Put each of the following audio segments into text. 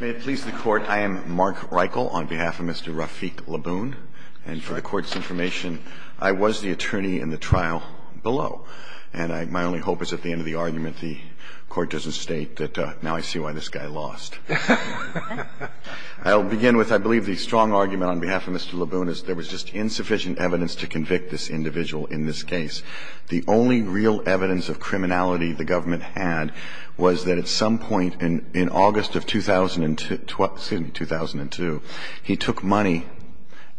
May it please the Court, I am Mark Reichel on behalf of Mr. Rafic Labboun. And for the Court's information, I was the attorney in the trial below. And my only hope is at the end of the argument the Court doesn't state that now I see why this guy lost. I'll begin with, I believe, the strong argument on behalf of Mr. Labboun is there was just insufficient evidence to convict this individual in this case. The only real evidence of criminality the government had was that at some point in August of 2002, he took money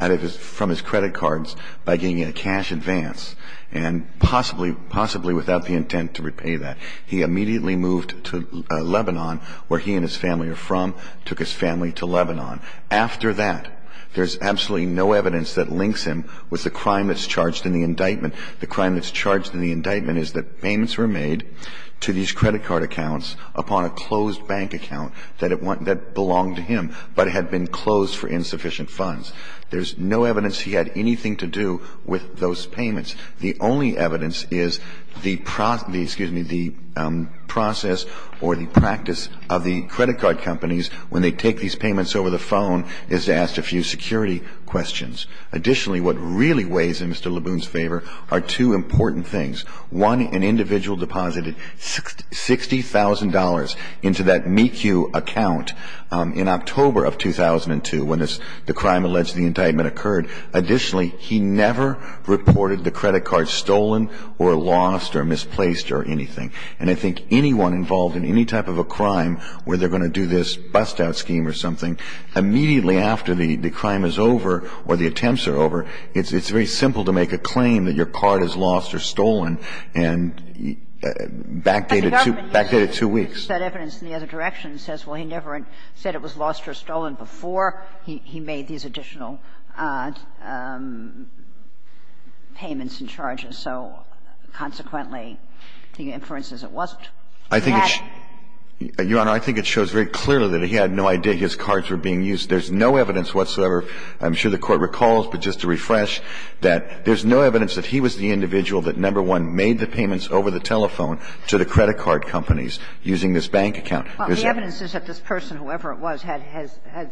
from his credit cards by getting a cash advance and possibly without the intent to repay that. He immediately moved to Lebanon, where he and his family are from, took his family to Lebanon. After that, there's absolutely no evidence that links him with the crime that's charged in the indictment. The crime that's charged in the indictment is that payments were made to these credit card accounts upon a closed bank account that belonged to him but had been closed for insufficient funds. There's no evidence he had anything to do with those payments. The only evidence is the process or the practice of the credit card companies when they take these payments over the phone is to ask a few security questions. Additionally, what really weighs in Mr. Labboun's favor are two important things. One, an individual deposited $60,000 into that MECU account in October of 2002 when the crime alleged in the indictment occurred. Additionally, he never reported the credit card stolen or lost or misplaced or anything. And I think anyone involved in any type of a crime where they're going to do this bust-out scheme or something, immediately after the crime is over or the attempts are over, it's very simple to make a claim that your card is lost or stolen and backdate it two weeks. But the government used that evidence in the other direction and says, well, he never said it was lost or stolen before he made these additional payments and charges. And so, consequently, the inference is it wasn't. He had no idea his cards were being used. There's no evidence whatsoever, I'm sure the Court recalls, but just to refresh, that there's no evidence that he was the individual that, number one, made the payments over the telephone to the credit card companies using this bank account. Well, the evidence is that this person, whoever it was, had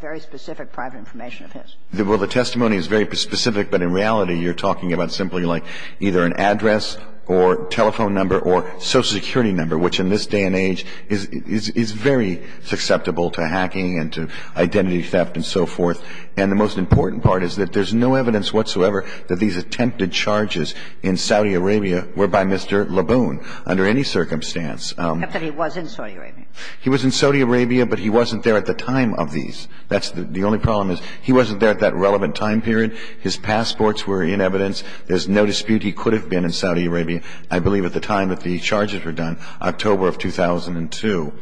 very specific private information of his. Well, the testimony is very specific, but in reality, you're talking about simply something like either an address or telephone number or Social Security number, which in this day and age is very susceptible to hacking and to identity theft and so forth. And the most important part is that there's no evidence whatsoever that these attempted charges in Saudi Arabia were by Mr. Laboon under any circumstance. Except that he was in Saudi Arabia. He was in Saudi Arabia, but he wasn't there at the time of these. That's the only problem is he wasn't there at that relevant time period, his passports were in evidence. There's no dispute he could have been in Saudi Arabia, I believe, at the time that the charges were done, October of 2002.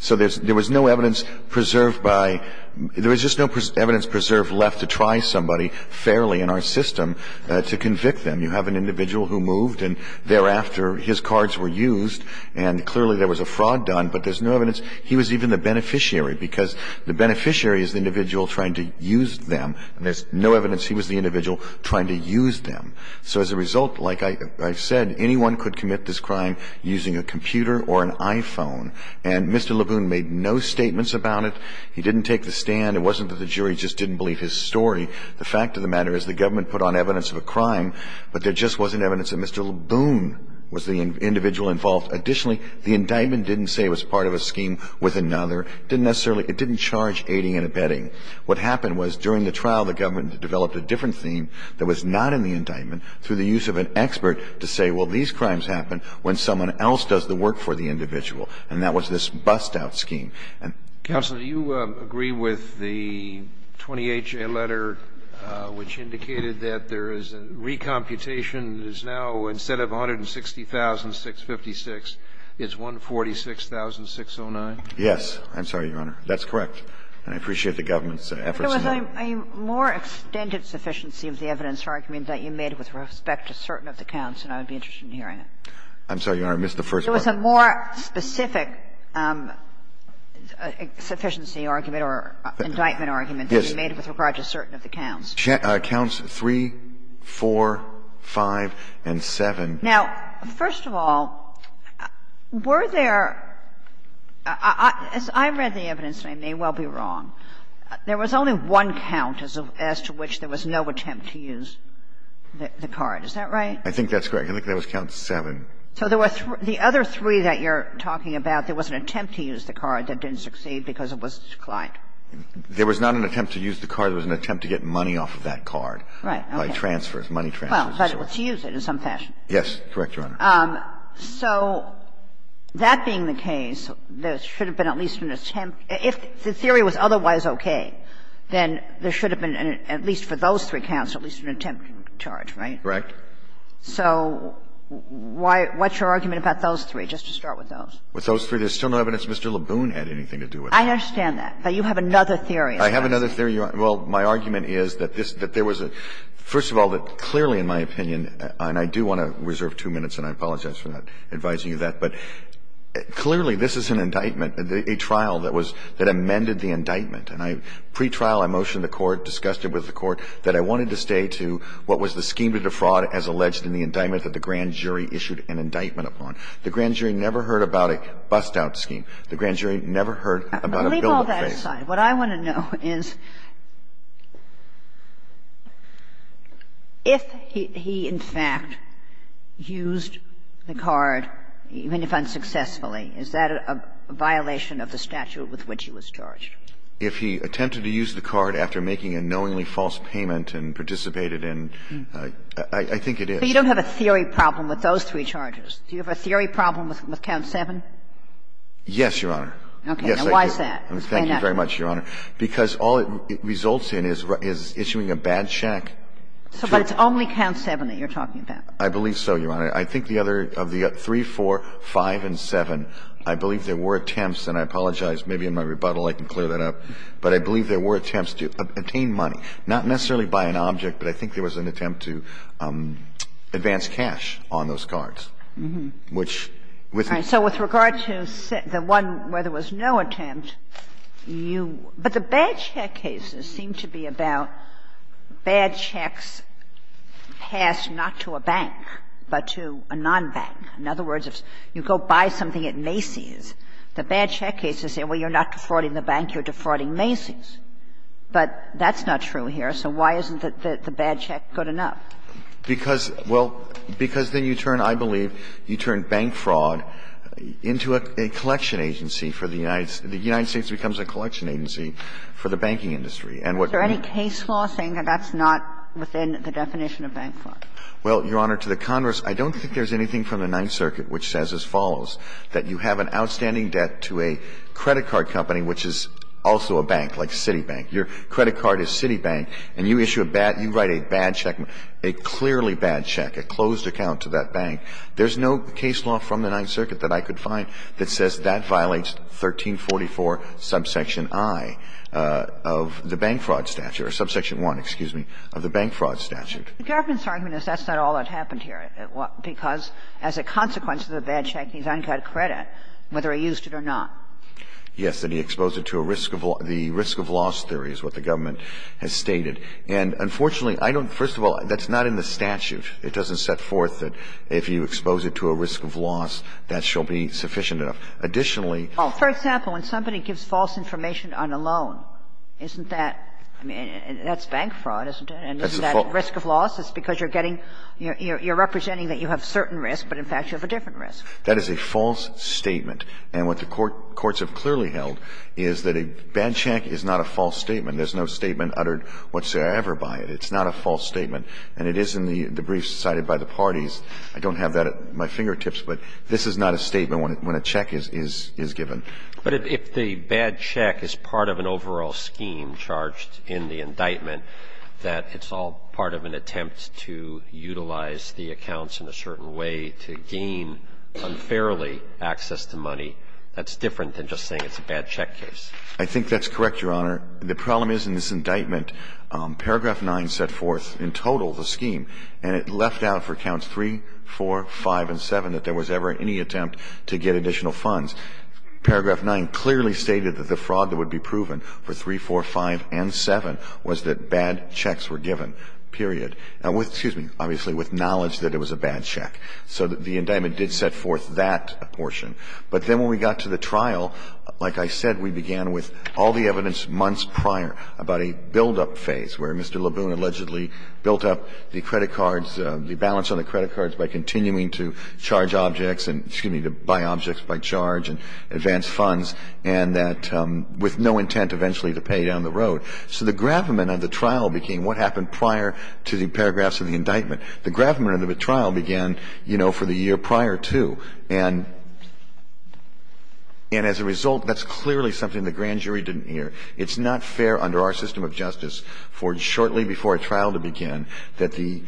So there was no evidence preserved by – there was just no evidence preserved left to try somebody fairly in our system to convict them. You have an individual who moved, and thereafter his cards were used, and clearly there was a fraud done, but there's no evidence he was even the beneficiary, because the beneficiary is the individual trying to use them. And there's no evidence he was the individual trying to use them. So as a result, like I've said, anyone could commit this crime using a computer or an iPhone. And Mr. Laboon made no statements about it. He didn't take the stand. It wasn't that the jury just didn't believe his story. The fact of the matter is the government put on evidence of a crime, but there just wasn't evidence that Mr. Laboon was the individual involved. Additionally, the indictment didn't say it was part of a scheme with another. It didn't necessarily – it didn't charge aiding and abetting. What happened was during the trial, the government developed a different theme that was not in the indictment through the use of an expert to say, well, these crimes happen when someone else does the work for the individual. And that was this bust-out scheme. And the fact of the matter is the government put on evidence of a crime, but there just wasn't evidence that Mr. Laboon was the individual involved. And the fact of the matter is the government put on evidence of a crime, but there just wasn't evidence that Mr. Laboon was the individual involved. And I appreciate the government's efforts in that. Kagan. There was a more extended sufficiency of the evidence argument that you made with respect to certain of the counts, and I would be interested in hearing it. I'm sorry, Your Honor. I missed the first part. There was a more specific sufficiency argument or indictment argument that you made with regard to certain of the counts. Counts 3, 4, 5, and 7. Now, first of all, were there – as I read the evidence, and I may well be wrong, there was only one count as to which there was no attempt to use the card. Is that right? I think that's correct. I think that was count 7. So there were three – the other three that you're talking about, there was an attempt to use the card that didn't succeed because it was declined. There was not an attempt to use the card. There was an attempt to get money off of that card by transfers, money transfers. Well, but to use it in some fashion. Yes. Correct, Your Honor. So that being the case, there should have been at least an attempt – if the theory was otherwise okay, then there should have been, at least for those three counts, at least an attempt to charge, right? Correct. So why – what's your argument about those three, just to start with those? With those three, there's still no evidence Mr. LeBoon had anything to do with them. I understand that, but you have another theory. I have another theory, Your Honor. Well, my argument is that this – that there was a – first of all, that clearly in my opinion, and I do want to reserve two minutes, and I apologize for not advising you that, but clearly this is an indictment, a trial that was – that amended the indictment. And I – pretrial, I motioned the court, discussed it with the court, that I wanted to stay to what was the scheme to defraud as alleged in the indictment that the grand jury issued an indictment upon. The grand jury never heard about a bust-out scheme. The grand jury never heard about a bill that failed. I'm going to leave all that aside. What I want to know is, if he in fact used the card, even if unsuccessfully, is that a violation of the statute with which he was charged? If he attempted to use the card after making a knowingly false payment and participated in – I think it is. So you don't have a theory problem with those three charges. Do you have a theory problem with count 7? Yes, Your Honor. Okay. Now, why is that? Why not? Thank you very much, Your Honor. Because all it results in is issuing a bad check. But it's only count 7 that you're talking about. I believe so, Your Honor. I think the other – of the 3, 4, 5, and 7, I believe there were attempts – and I apologize, maybe in my rebuttal I can clear that up – but I believe there were attempts to obtain money, not necessarily by an object, but I think there was an attempt to advance cash on those cards, which, with the – So with regard to the one where there was no attempt, you – but the bad check cases seem to be about bad checks passed not to a bank, but to a non-bank. In other words, if you go buy something at Macy's, the bad check cases say, well, you're not defrauding the bank, you're defrauding Macy's. But that's not true here, so why isn't the bad check good enough? Because – well, because then you turn, I believe, you turn bank fraud into a collection agency for the United – the United States becomes a collection agency for the banking industry, and what – Is there any case law saying that that's not within the definition of bank fraud? Well, Your Honor, to the Congress, I don't think there's anything from the Ninth Circuit which says as follows, that you have an outstanding debt to a credit card company, which is also a bank, like Citibank. Your credit card is Citibank, and you issue a bad – you write a bad check, a clearly bad check, a closed account to that bank. There's no case law from the Ninth Circuit that I could find that says that violates 1344 subsection I of the bank fraud statute, or subsection I, excuse me, of the bank fraud statute. The government's argument is that's not all that happened here, because as a consequence of the bad check, he's uncut credit, whether he used it or not. Yes, and he exposed it to a risk of – the risk of loss theory is what the government has stated. And unfortunately, I don't – first of all, that's not in the statute. It doesn't set forth that if you expose it to a risk of loss, that shall be sufficient enough. Additionally – For example, when somebody gives false information on a loan, isn't that – I mean, that's bank fraud, isn't it? And isn't that a risk of loss? It's because you're getting – you're representing that you have certain risk, but in fact, you have a different risk. That is a false statement. And what the courts have clearly held is that a bad check is not a false statement. There's no statement uttered whatsoever by it. It's not a false statement. And it is in the brief cited by the parties. I don't have that at my fingertips, but this is not a statement when a check is given. But if the bad check is part of an overall scheme charged in the indictment, that it's all part of an attempt to utilize the accounts in a certain way to gain unfairly access to money, that's different than just saying it's a bad check case. I think that's correct, Your Honor. The problem is in this indictment, paragraph 9 set forth in total the scheme, and it left out for counts 3, 4, 5, and 7 that there was ever any attempt to get additional funds. Paragraph 9 clearly stated that the fraud that would be proven for 3, 4, 5, and 7 was that bad checks were given, period. Now, with – excuse me – obviously, with knowledge that it was a bad check. So the indictment did set forth that portion. But then when we got to the trial, like I said, we began with all the evidence months prior about a buildup phase where Mr. LeBoon allegedly built up the credit cards, the balance on the credit cards by continuing to charge objects and – excuse me – advance funds, and that – with no intent eventually to pay down the road. So the gravamen of the trial became what happened prior to the paragraphs of the indictment. The gravamen of the trial began, you know, for the year prior to. And as a result, that's clearly something the grand jury didn't hear. It's not fair under our system of justice for shortly before a trial to begin that the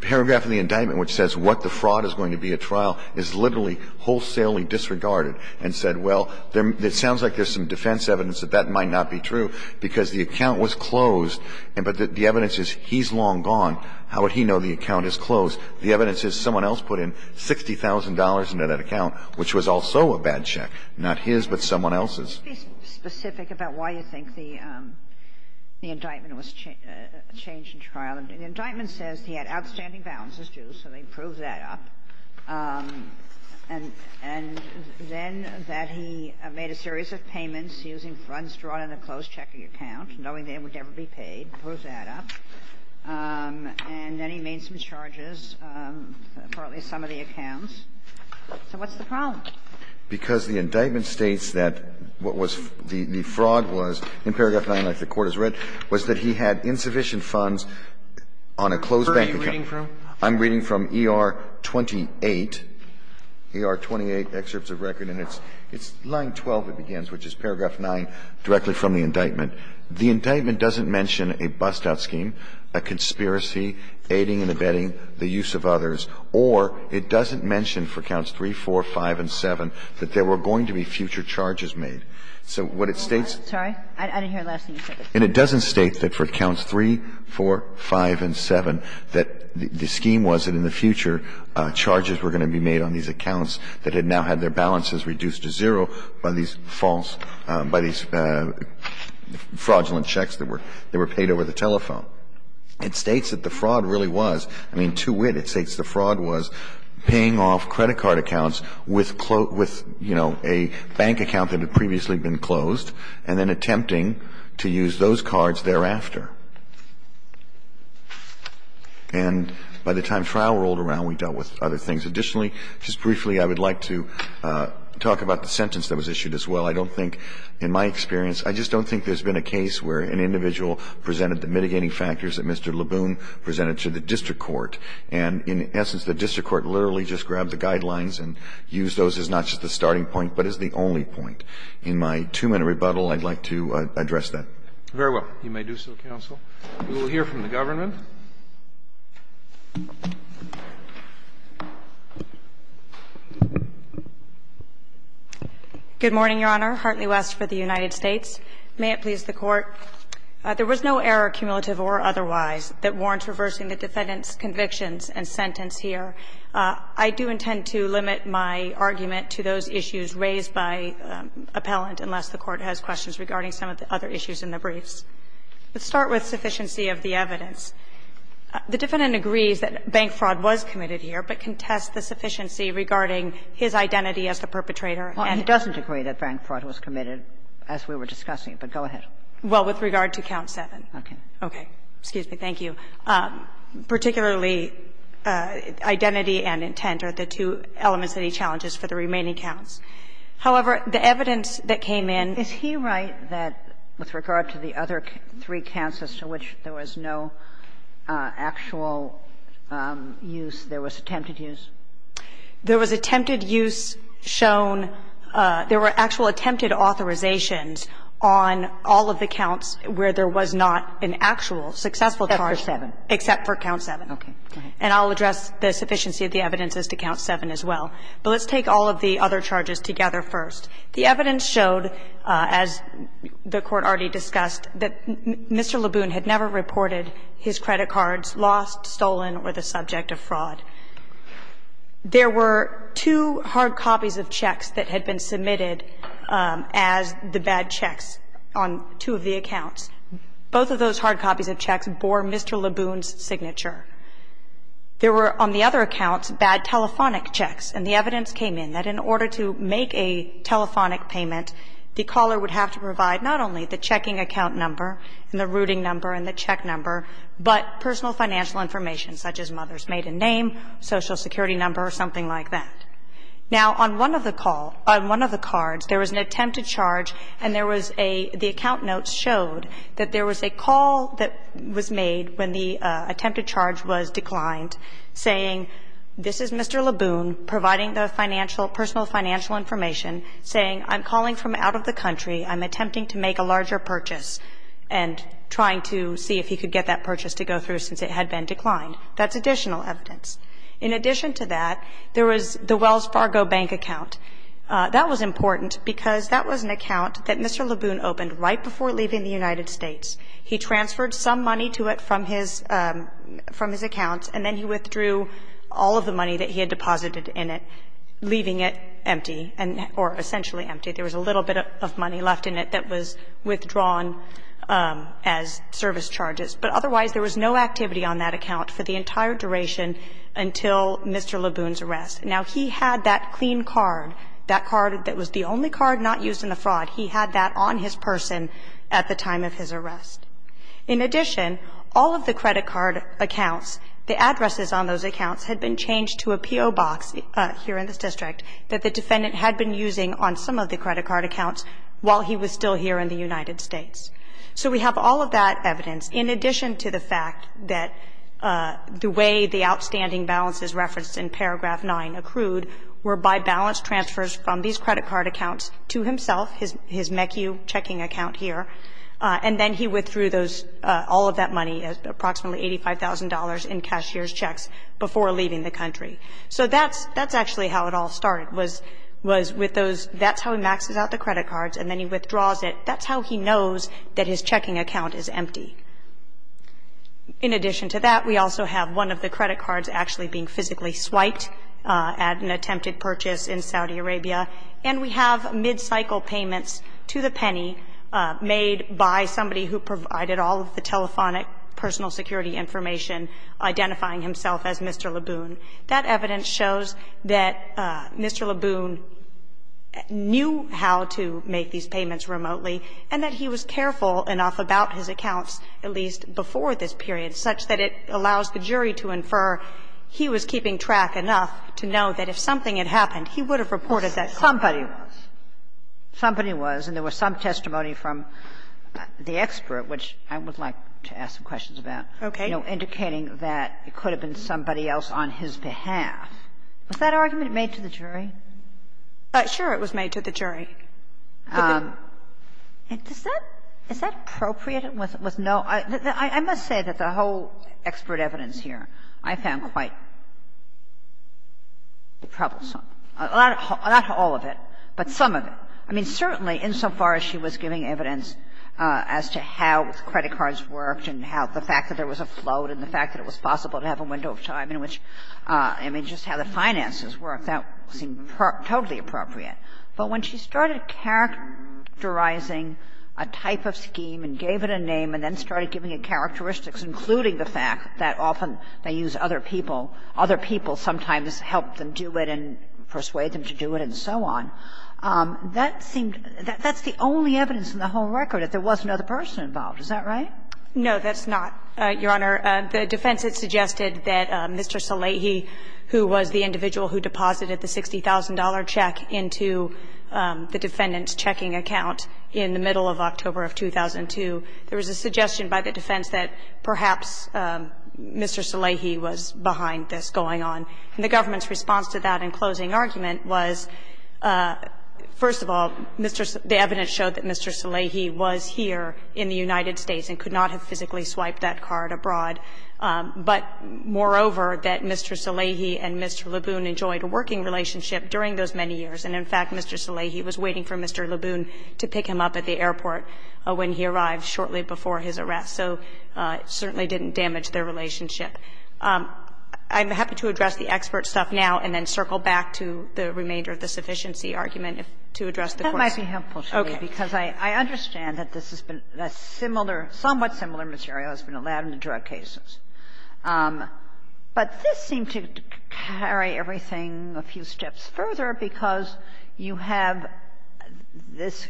paragraph of the indictment which says what the fraud is going to be at trial is literally wholesalely disregarded and said, well, it sounds like there's some defense evidence that that might not be true because the account was closed. But the evidence is he's long gone. How would he know the account is closed? The evidence is someone else put in $60,000 into that account, which was also a bad check, not his but someone else's. Kagan. Can you be specific about why you think the indictment was changed in trial? The indictment says he had outstanding balances due, so they proved that up. And then that he made a series of payments using funds drawn in a closed checking account, knowing they would never be paid, proved that up. And then he made some charges for at least some of the accounts. So what's the problem? Because the indictment states that what was the fraud was, in paragraph 9, like the Court has read, was that he had insufficient funds on a closed bank account. So what's the problem? I'm reading from ER-28, ER-28 Excerpts of Record. And it's line 12, it begins, which is paragraph 9, directly from the indictment. The indictment doesn't mention a bust-out scheme, a conspiracy, aiding and abetting the use of others. Or it doesn't mention for accounts 3, 4, 5, and 7 that there were going to be future charges made. So what it states — I'm sorry. I didn't hear the last thing you said. And it doesn't state that for accounts 3, 4, 5, and 7 that the scheme was that in the future charges were going to be made on these accounts that had now had their balances reduced to zero by these false — by these fraudulent checks that were paid over the telephone. It states that the fraud really was. I mean, to wit, it states the fraud was paying off credit card accounts with, you know, a bank account that had previously been closed and then attempting to use those cards thereafter. And by the time trial rolled around, we dealt with other things. Additionally, just briefly, I would like to talk about the sentence that was issued as well. I don't think, in my experience, I just don't think there's been a case where an individual presented the mitigating factors that Mr. Leboon presented to the district court. And in essence, the district court literally just grabbed the guidelines and used those as not just the starting point, but as the only point. In my two-minute rebuttal, I'd like to address that. Very well. You may do so, counsel. We will hear from the government. Good morning, Your Honor. Hartley West for the United States. May it please the Court. There was no error, cumulative or otherwise, that warrants reversing the defendant's convictions and sentence here. I do intend to limit my argument to those issues raised by appellant, unless the Court has questions regarding some of the other issues in the briefs. Let's start with sufficiency of the evidence. The defendant agrees that bank fraud was committed here, but contests the sufficiency regarding his identity as the perpetrator. Well, he doesn't agree that bank fraud was committed, as we were discussing, but go ahead. Well, with regard to count 7. Okay. Okay. Excuse me. Thank you. Particularly identity and intent are the two elements that he challenges for the remaining counts. However, the evidence that came in. Is he right that with regard to the other three counts as to which there was no actual use, there was attempted use? There was attempted use shown. There were actual attempted authorizations on all of the counts where there was not an actual successful charge. Except for 7. Except for count 7. Okay. And I'll address the sufficiency of the evidence as to count 7 as well. But let's take all of the other charges together first. The evidence showed, as the Court already discussed, that Mr. LeBoon had never reported his credit cards lost, stolen or the subject of fraud. There were two hard copies of checks that had been submitted as the bad checks on two of the accounts. Both of those hard copies of checks bore Mr. LeBoon's signature. There were, on the other accounts, bad telephonic checks. And the evidence came in that in order to make a telephonic payment, the caller would have to provide not only the checking account number and the routing number and the check number, but personal financial information, such as mother's maiden name, Social Security number, or something like that. Now, on one of the call – on one of the cards, there was an attempted charge and there was a – the account notes showed that there was a call that was made when the attempted charge was declined, saying, this is Mr. LeBoon providing the financial – personal financial information, saying, I'm calling from out of the to see if he could get that purchase to go through since it had been declined. That's additional evidence. In addition to that, there was the Wells Fargo Bank account. That was important because that was an account that Mr. LeBoon opened right before leaving the United States. He transferred some money to it from his – from his account, and then he withdrew all of the money that he had deposited in it, leaving it empty and – or essentially empty. There was a little bit of money left in it that was withdrawn as service charges. But otherwise, there was no activity on that account for the entire duration until Mr. LeBoon's arrest. Now, he had that clean card, that card that was the only card not used in the fraud, he had that on his person at the time of his arrest. In addition, all of the credit card accounts, the addresses on those accounts, had been changed to a P.O. box here in this district that the defendant had been using on some of the credit card accounts while he was still here in the United States. So we have all of that evidence, in addition to the fact that the way the outstanding balances referenced in paragraph 9 accrued were by balance transfers from these credit card accounts to himself, his MECU checking account here, and then he withdrew those – all of that money, approximately $85,000 in cashier's checks before leaving the country. So that's actually how it all started, was with those – that's how he maxes out the credit cards and then he withdraws it. That's how he knows that his checking account is empty. In addition to that, we also have one of the credit cards actually being physically swiped at an attempted purchase in Saudi Arabia, and we have mid-cycle payments to the penny made by somebody who provided all of the telephonic personal security information identifying himself as Mr. LeBoon. That evidence shows that Mr. LeBoon knew how to make these payments remotely and that he was careful enough about his accounts, at least before this period, such that it allows the jury to infer he was keeping track enough to know that if something had happened, he would have reported that somebody was. And there was some testimony from the expert, which I would like to ask some questions about, you know, indicating that it could have been somebody else on his behalf. Was that argument made to the jury? Ginsburg-Demers, I must say that the whole expert evidence here I found quite troublesome. Not all of it, but some of it. I mean, certainly, insofar as she was giving evidence as to how credit cards worked and how the fact that there was a float and the fact that it was possible to have a window of time in which, I mean, just how the finances worked, that seemed totally appropriate. But when she started characterizing a type of scheme and gave it a name and then started giving it characteristics, including the fact that often they use other people, other people sometimes help them do it and persuade them to do it and so on, that seemed to be the only evidence in the whole record that there was another person involved. Is that right? No, that's not, Your Honor. The defense that suggested that Mr. Salehi, who was the individual who deposited the $60,000 check into the defendant's checking account in the middle of October of 2002, there was a suggestion by the defense that perhaps Mr. Salehi was behind this going on. And the government's response to that in closing argument was, first of all, the evidence showed that Mr. Salehi was here in the United States and could not have physically swiped that card abroad. But, moreover, that Mr. Salehi and Mr. Laboon enjoyed a working relationship during those many years, and, in fact, Mr. Salehi was waiting for Mr. Laboon to pick him up at the airport when he arrived shortly before his arrest. So it certainly didn't damage their relationship. I'm happy to address the expert stuff now and then circle back to the remainder of the sufficiency argument to address the question. Kagan. That might be helpful to me, because I understand that this has been a similar – somewhat similar material has been allowed in the drug cases. But this seemed to carry everything a few steps further, because you have this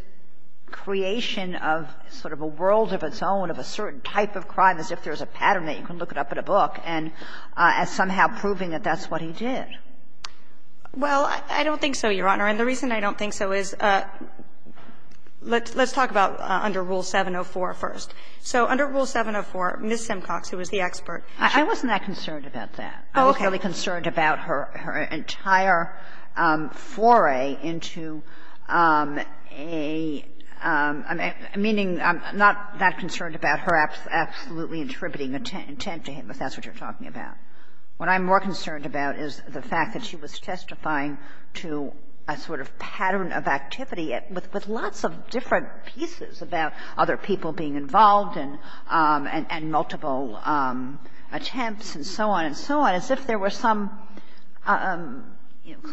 creation of sort of a world of its own, of a certain type of crime, as if there's a pattern that you can look it up in a book, and as somehow proving that that's what he did. Well, I don't think so, Your Honor. And the reason I don't think so is, let's talk about under Rule 704 first. So under Rule 704, Ms. Simcox, who was the expert, she was not concerned about that. I was really concerned about her entire foray into a – meaning, I'm not that concerned about her absolutely attributing intent to him, if that's what you're talking about. What I'm more concerned about is the fact that she was testifying to a sort of pattern of activity with lots of different pieces about other people being involved and multiple attempts and so on and so on, as if there were some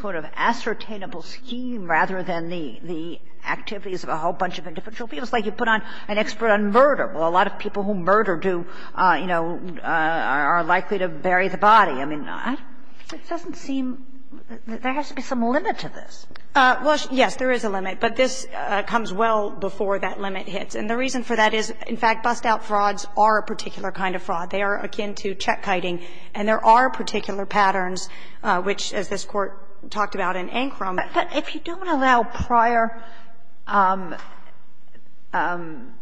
sort of ascertainable scheme rather than the activities of a whole bunch of individual people. It's like you put an expert on murder. Well, a lot of people who murder do, you know, are likely to bury the body. I mean, it doesn't seem that there has to be some limit to this. Well, yes, there is a limit, but this comes well before that limit hits. And the reason for that is, in fact, bust-out frauds are a particular kind of fraud. They are akin to check-kiting, and there are particular patterns, which, as this Court talked about in Ankram. But if you don't allow prior bad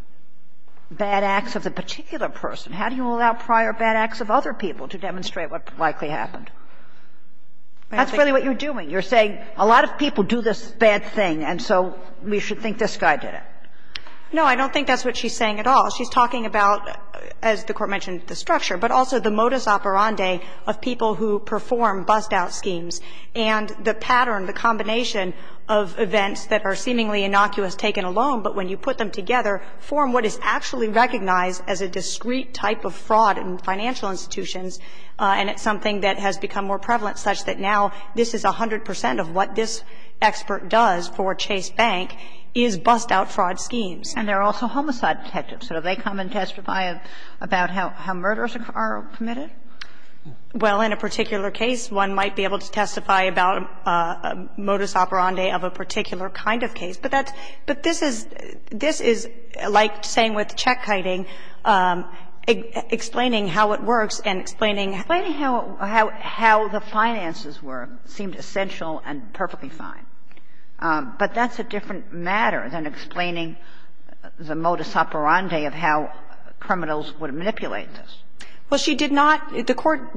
acts of a particular person, how do you allow prior bad acts of other people to demonstrate what likely happened? That's really what you're doing. You're saying a lot of people do this bad thing, and so we should think this guy did it. No, I don't think that's what she's saying at all. She's talking about, as the Court mentioned, the structure, but also the modus operandi of people who perform bust-out schemes. And the pattern, the combination of events that are seemingly innocuous taken alone, but when you put them together, form what is actually recognized as a discrete type of fraud in financial institutions. And it's something that has become more prevalent, such that now this is 100 percent of what this expert does for Chase Bank is bust-out fraud schemes. And they're also homicide detectives. So do they come and testify about how murders are committed? Well, in a particular case, one might be able to testify about a modus operandi of a particular kind of case. But that's – but this is – this is like saying with check hiding, explaining how it works and explaining how it works. Explain how the finances were, seemed essential and perfectly fine. But that's a different matter than explaining the modus operandi of how criminals would manipulate this. Well, she did not – the Court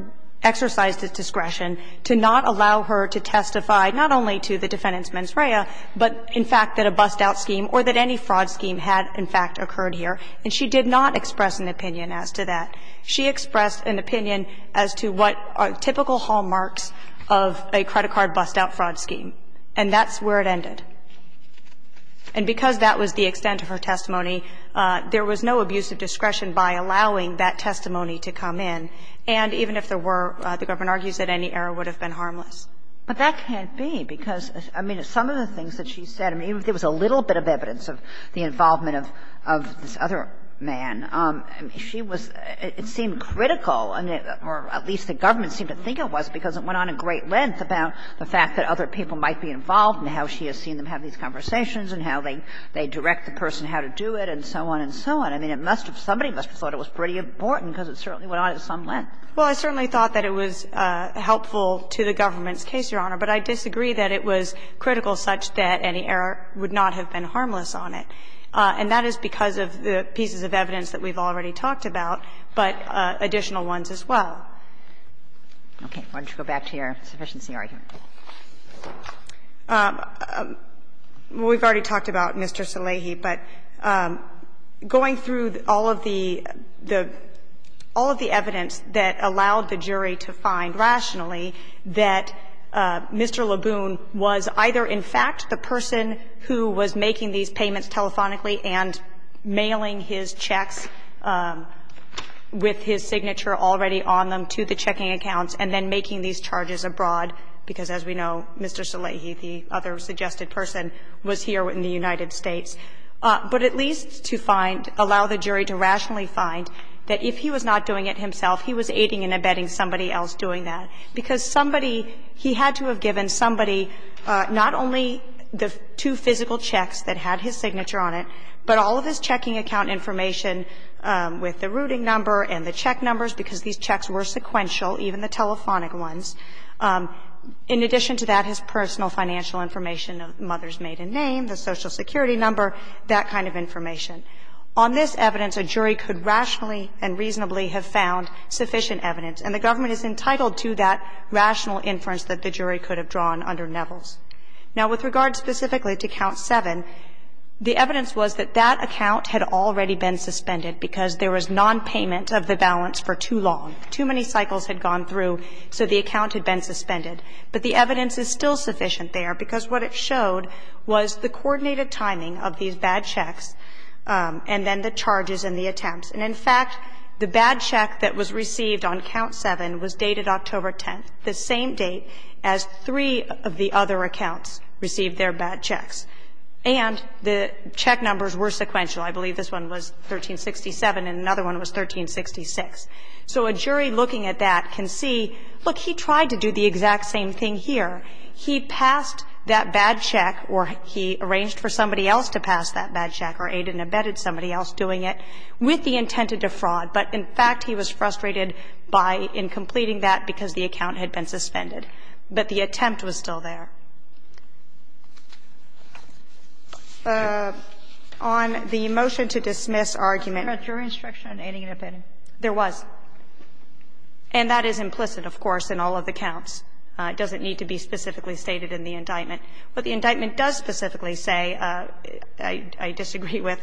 exercised its discretion to not allow her to testify not only to the defendant's mens rea, but in fact that a bust-out scheme or that any fraud scheme had, in fact, occurred here. And she did not express an opinion as to that. She expressed an opinion as to what are typical hallmarks of a credit card bust-out fraud scheme. And that's where it ended. And because that was the extent of her testimony, there was no abuse of discretion by allowing that testimony to come in. And even if there were, the government argues that any error would have been harmless. But that can't be, because, I mean, some of the things that she said, I mean, even if there was a little bit of evidence of the involvement of this other man, she was – it seemed critical, or at least the government seemed to think it was, because it went on a great length about the fact that other people might be involved and how she has seen them have these conversations and how they direct the person how to do it and so on and so on. I mean, it must have – somebody must have thought it was pretty important, because it certainly went on at some length. Well, I certainly thought that it was helpful to the government's case, Your Honor. But I disagree that it was critical such that any error would not have been harmless on it. And that is because of the pieces of evidence that we've already talked about, but additional ones as well. Okay. Why don't you go back to your sufficiency argument? Well, we've already talked about Mr. Salehi, but going through all of the – all of the evidence that allowed the jury to find, rationally, that Mr. LeBoon was either in fact the person who was making these payments telephonically and mailing his checks with his signature already on them to the checking accounts, and then making these payments, because, as we know, Mr. Salehi, the other suggested person, was here in the United States. But at least to find – allow the jury to rationally find that if he was not doing it himself, he was aiding and abetting somebody else doing that, because somebody – he had to have given somebody not only the two physical checks that had his signature on it, but all of his checking account information with the routing number and the In addition to that, his personal financial information, the mother's maiden name, the Social Security number, that kind of information. On this evidence, a jury could rationally and reasonably have found sufficient evidence, and the government is entitled to that rational inference that the jury could have drawn under Neville's. Now, with regard specifically to Count 7, the evidence was that that account had already been suspended because there was nonpayment of the balance for too long. Too many cycles had gone through, so the account had been suspended. But the evidence is still sufficient there, because what it showed was the coordinated timing of these bad checks, and then the charges and the attempts. And in fact, the bad check that was received on Count 7 was dated October 10th, the same date as three of the other accounts received their bad checks. And the check numbers were sequential. I believe this one was 1367 and another one was 1366. So a jury looking at that can see, look, he tried to do the exact same thing here. He passed that bad check or he arranged for somebody else to pass that bad check or aided and abetted somebody else doing it with the intent to defraud. But in fact, he was frustrated by in completing that because the account had been suspended. But the attempt was still there. On the motion to dismiss argument. Kagan, was there a jury instruction on aiding and abetting? There was. And that is implicit, of course, in all of the counts. It doesn't need to be specifically stated in the indictment. What the indictment does specifically say, I disagree with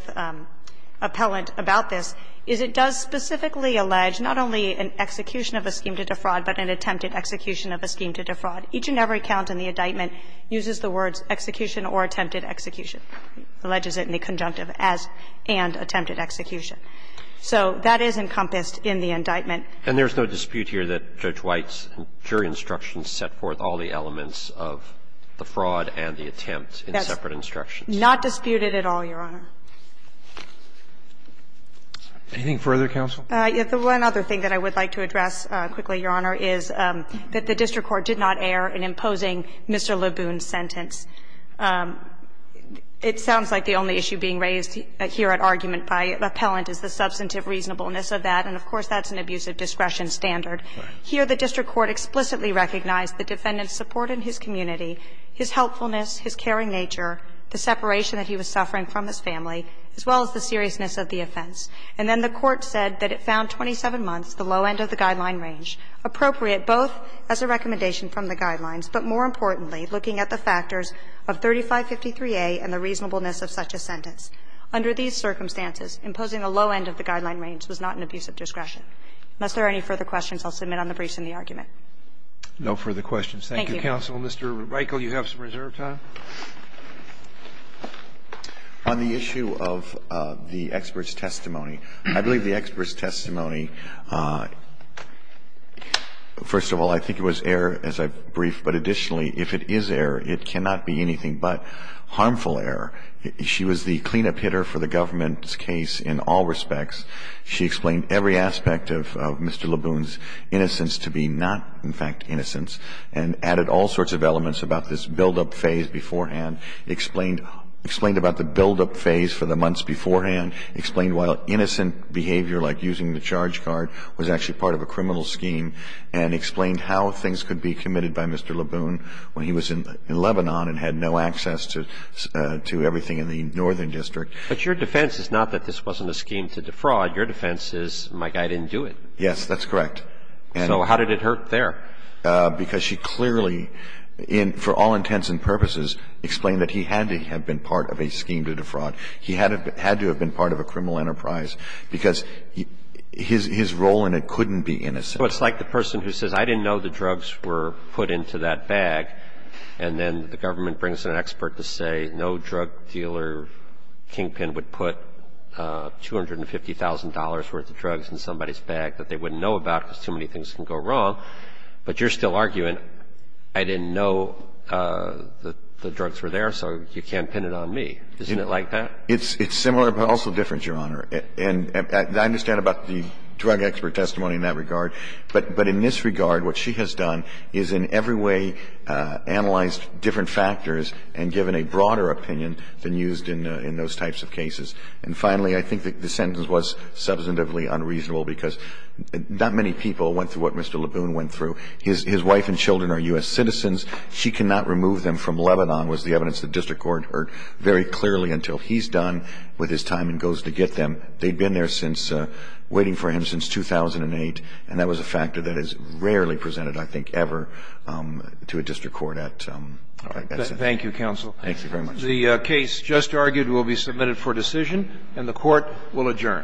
Appellant about this, is it does specifically allege not only an execution of a scheme to defraud, but an attempted execution of a scheme to defraud. Each and every count in the indictment uses the words execution or attempted execution, alleges it in the conjunctive as and attempted execution. So that is encompassed in the indictment. And there's no dispute here that Judge White's jury instructions set forth all the elements of the fraud and the attempt in separate instructions? Not disputed at all, Your Honor. Anything further, counsel? The one other thing that I would like to address quickly, Your Honor, is that the district court did not err in imposing Mr. LeBoon's sentence. It sounds like the only issue being raised here at argument by Appellant is the substantive reasonableness of that, and of course, that's an abuse of discretion standard. Here, the district court explicitly recognized the defendant's support in his community, his helpfulness, his caring nature, the separation that he was suffering from his family, as well as the seriousness of the offense. And then the court said that it found 27 months, the low end of the guideline range, appropriate both as a recommendation from the guidelines, but more importantly, looking at the factors of 3553A and the reasonableness of such a sentence. Under these circumstances, imposing a low end of the guideline range was not an abuse of discretion. Unless there are any further questions, I'll submit on the briefs in the argument. No further questions. Thank you, counsel. Mr. Reichle, you have some reserve time. of me, first of all, I think it was air as I brief, but additionally, if it is air, it cannot be anything but harmful air. She was the cleanup hitter for the government's case in all respects. She explained every aspect of Mr. LeBoon's innocence to be not, in fact, innocence, and added all sorts of elements about this buildup phase beforehand, explained about the buildup phase for the months beforehand, explained why innocent behavior like using the charge card was actually part of a criminal scheme, and explained how things could be committed by Mr. LeBoon when he was in Lebanon and had no access to everything in the northern district. But your defense is not that this wasn't a scheme to defraud. Your defense is my guy didn't do it. Yes, that's correct. So how did it hurt there? Because she clearly, for all intents and purposes, explained that he had to have been part of a scheme to defraud. He had to have been part of a criminal enterprise, because his role in it couldn't be innocence. It's like the person who says, I didn't know the drugs were put into that bag, and then the government brings in an expert to say no drug dealer, Kingpin, would put $250,000 worth of drugs in somebody's bag that they wouldn't know about because too many things can go wrong. But you're still arguing, I didn't know the drugs were there, so you can't pin it on me. Isn't it like that? It's similar, but also different, Your Honor. And I understand about the drug expert testimony in that regard. But in this regard, what she has done is in every way analyzed different factors and given a broader opinion than used in those types of cases. And finally, I think the sentence was substantively unreasonable, because not many people went through what Mr. Leboon went through. His wife and children are U.S. citizens. She cannot remove them from Lebanon, was the evidence the district court heard very clearly until he's done with his time and goes to get them. They've been there since, waiting for him since 2008, and that was a factor that is rarely presented, I think, ever to a district court at that size. Thank you, counsel. Thank you very much. The case just argued will be submitted for decision, and the Court will adjourn. Thank you, Your Honor. May it be adjourned. The first attempt at business is the Honorable United States Court of Appeals. The night is over. The court is adjourned. Now stand and be seated. Thank you.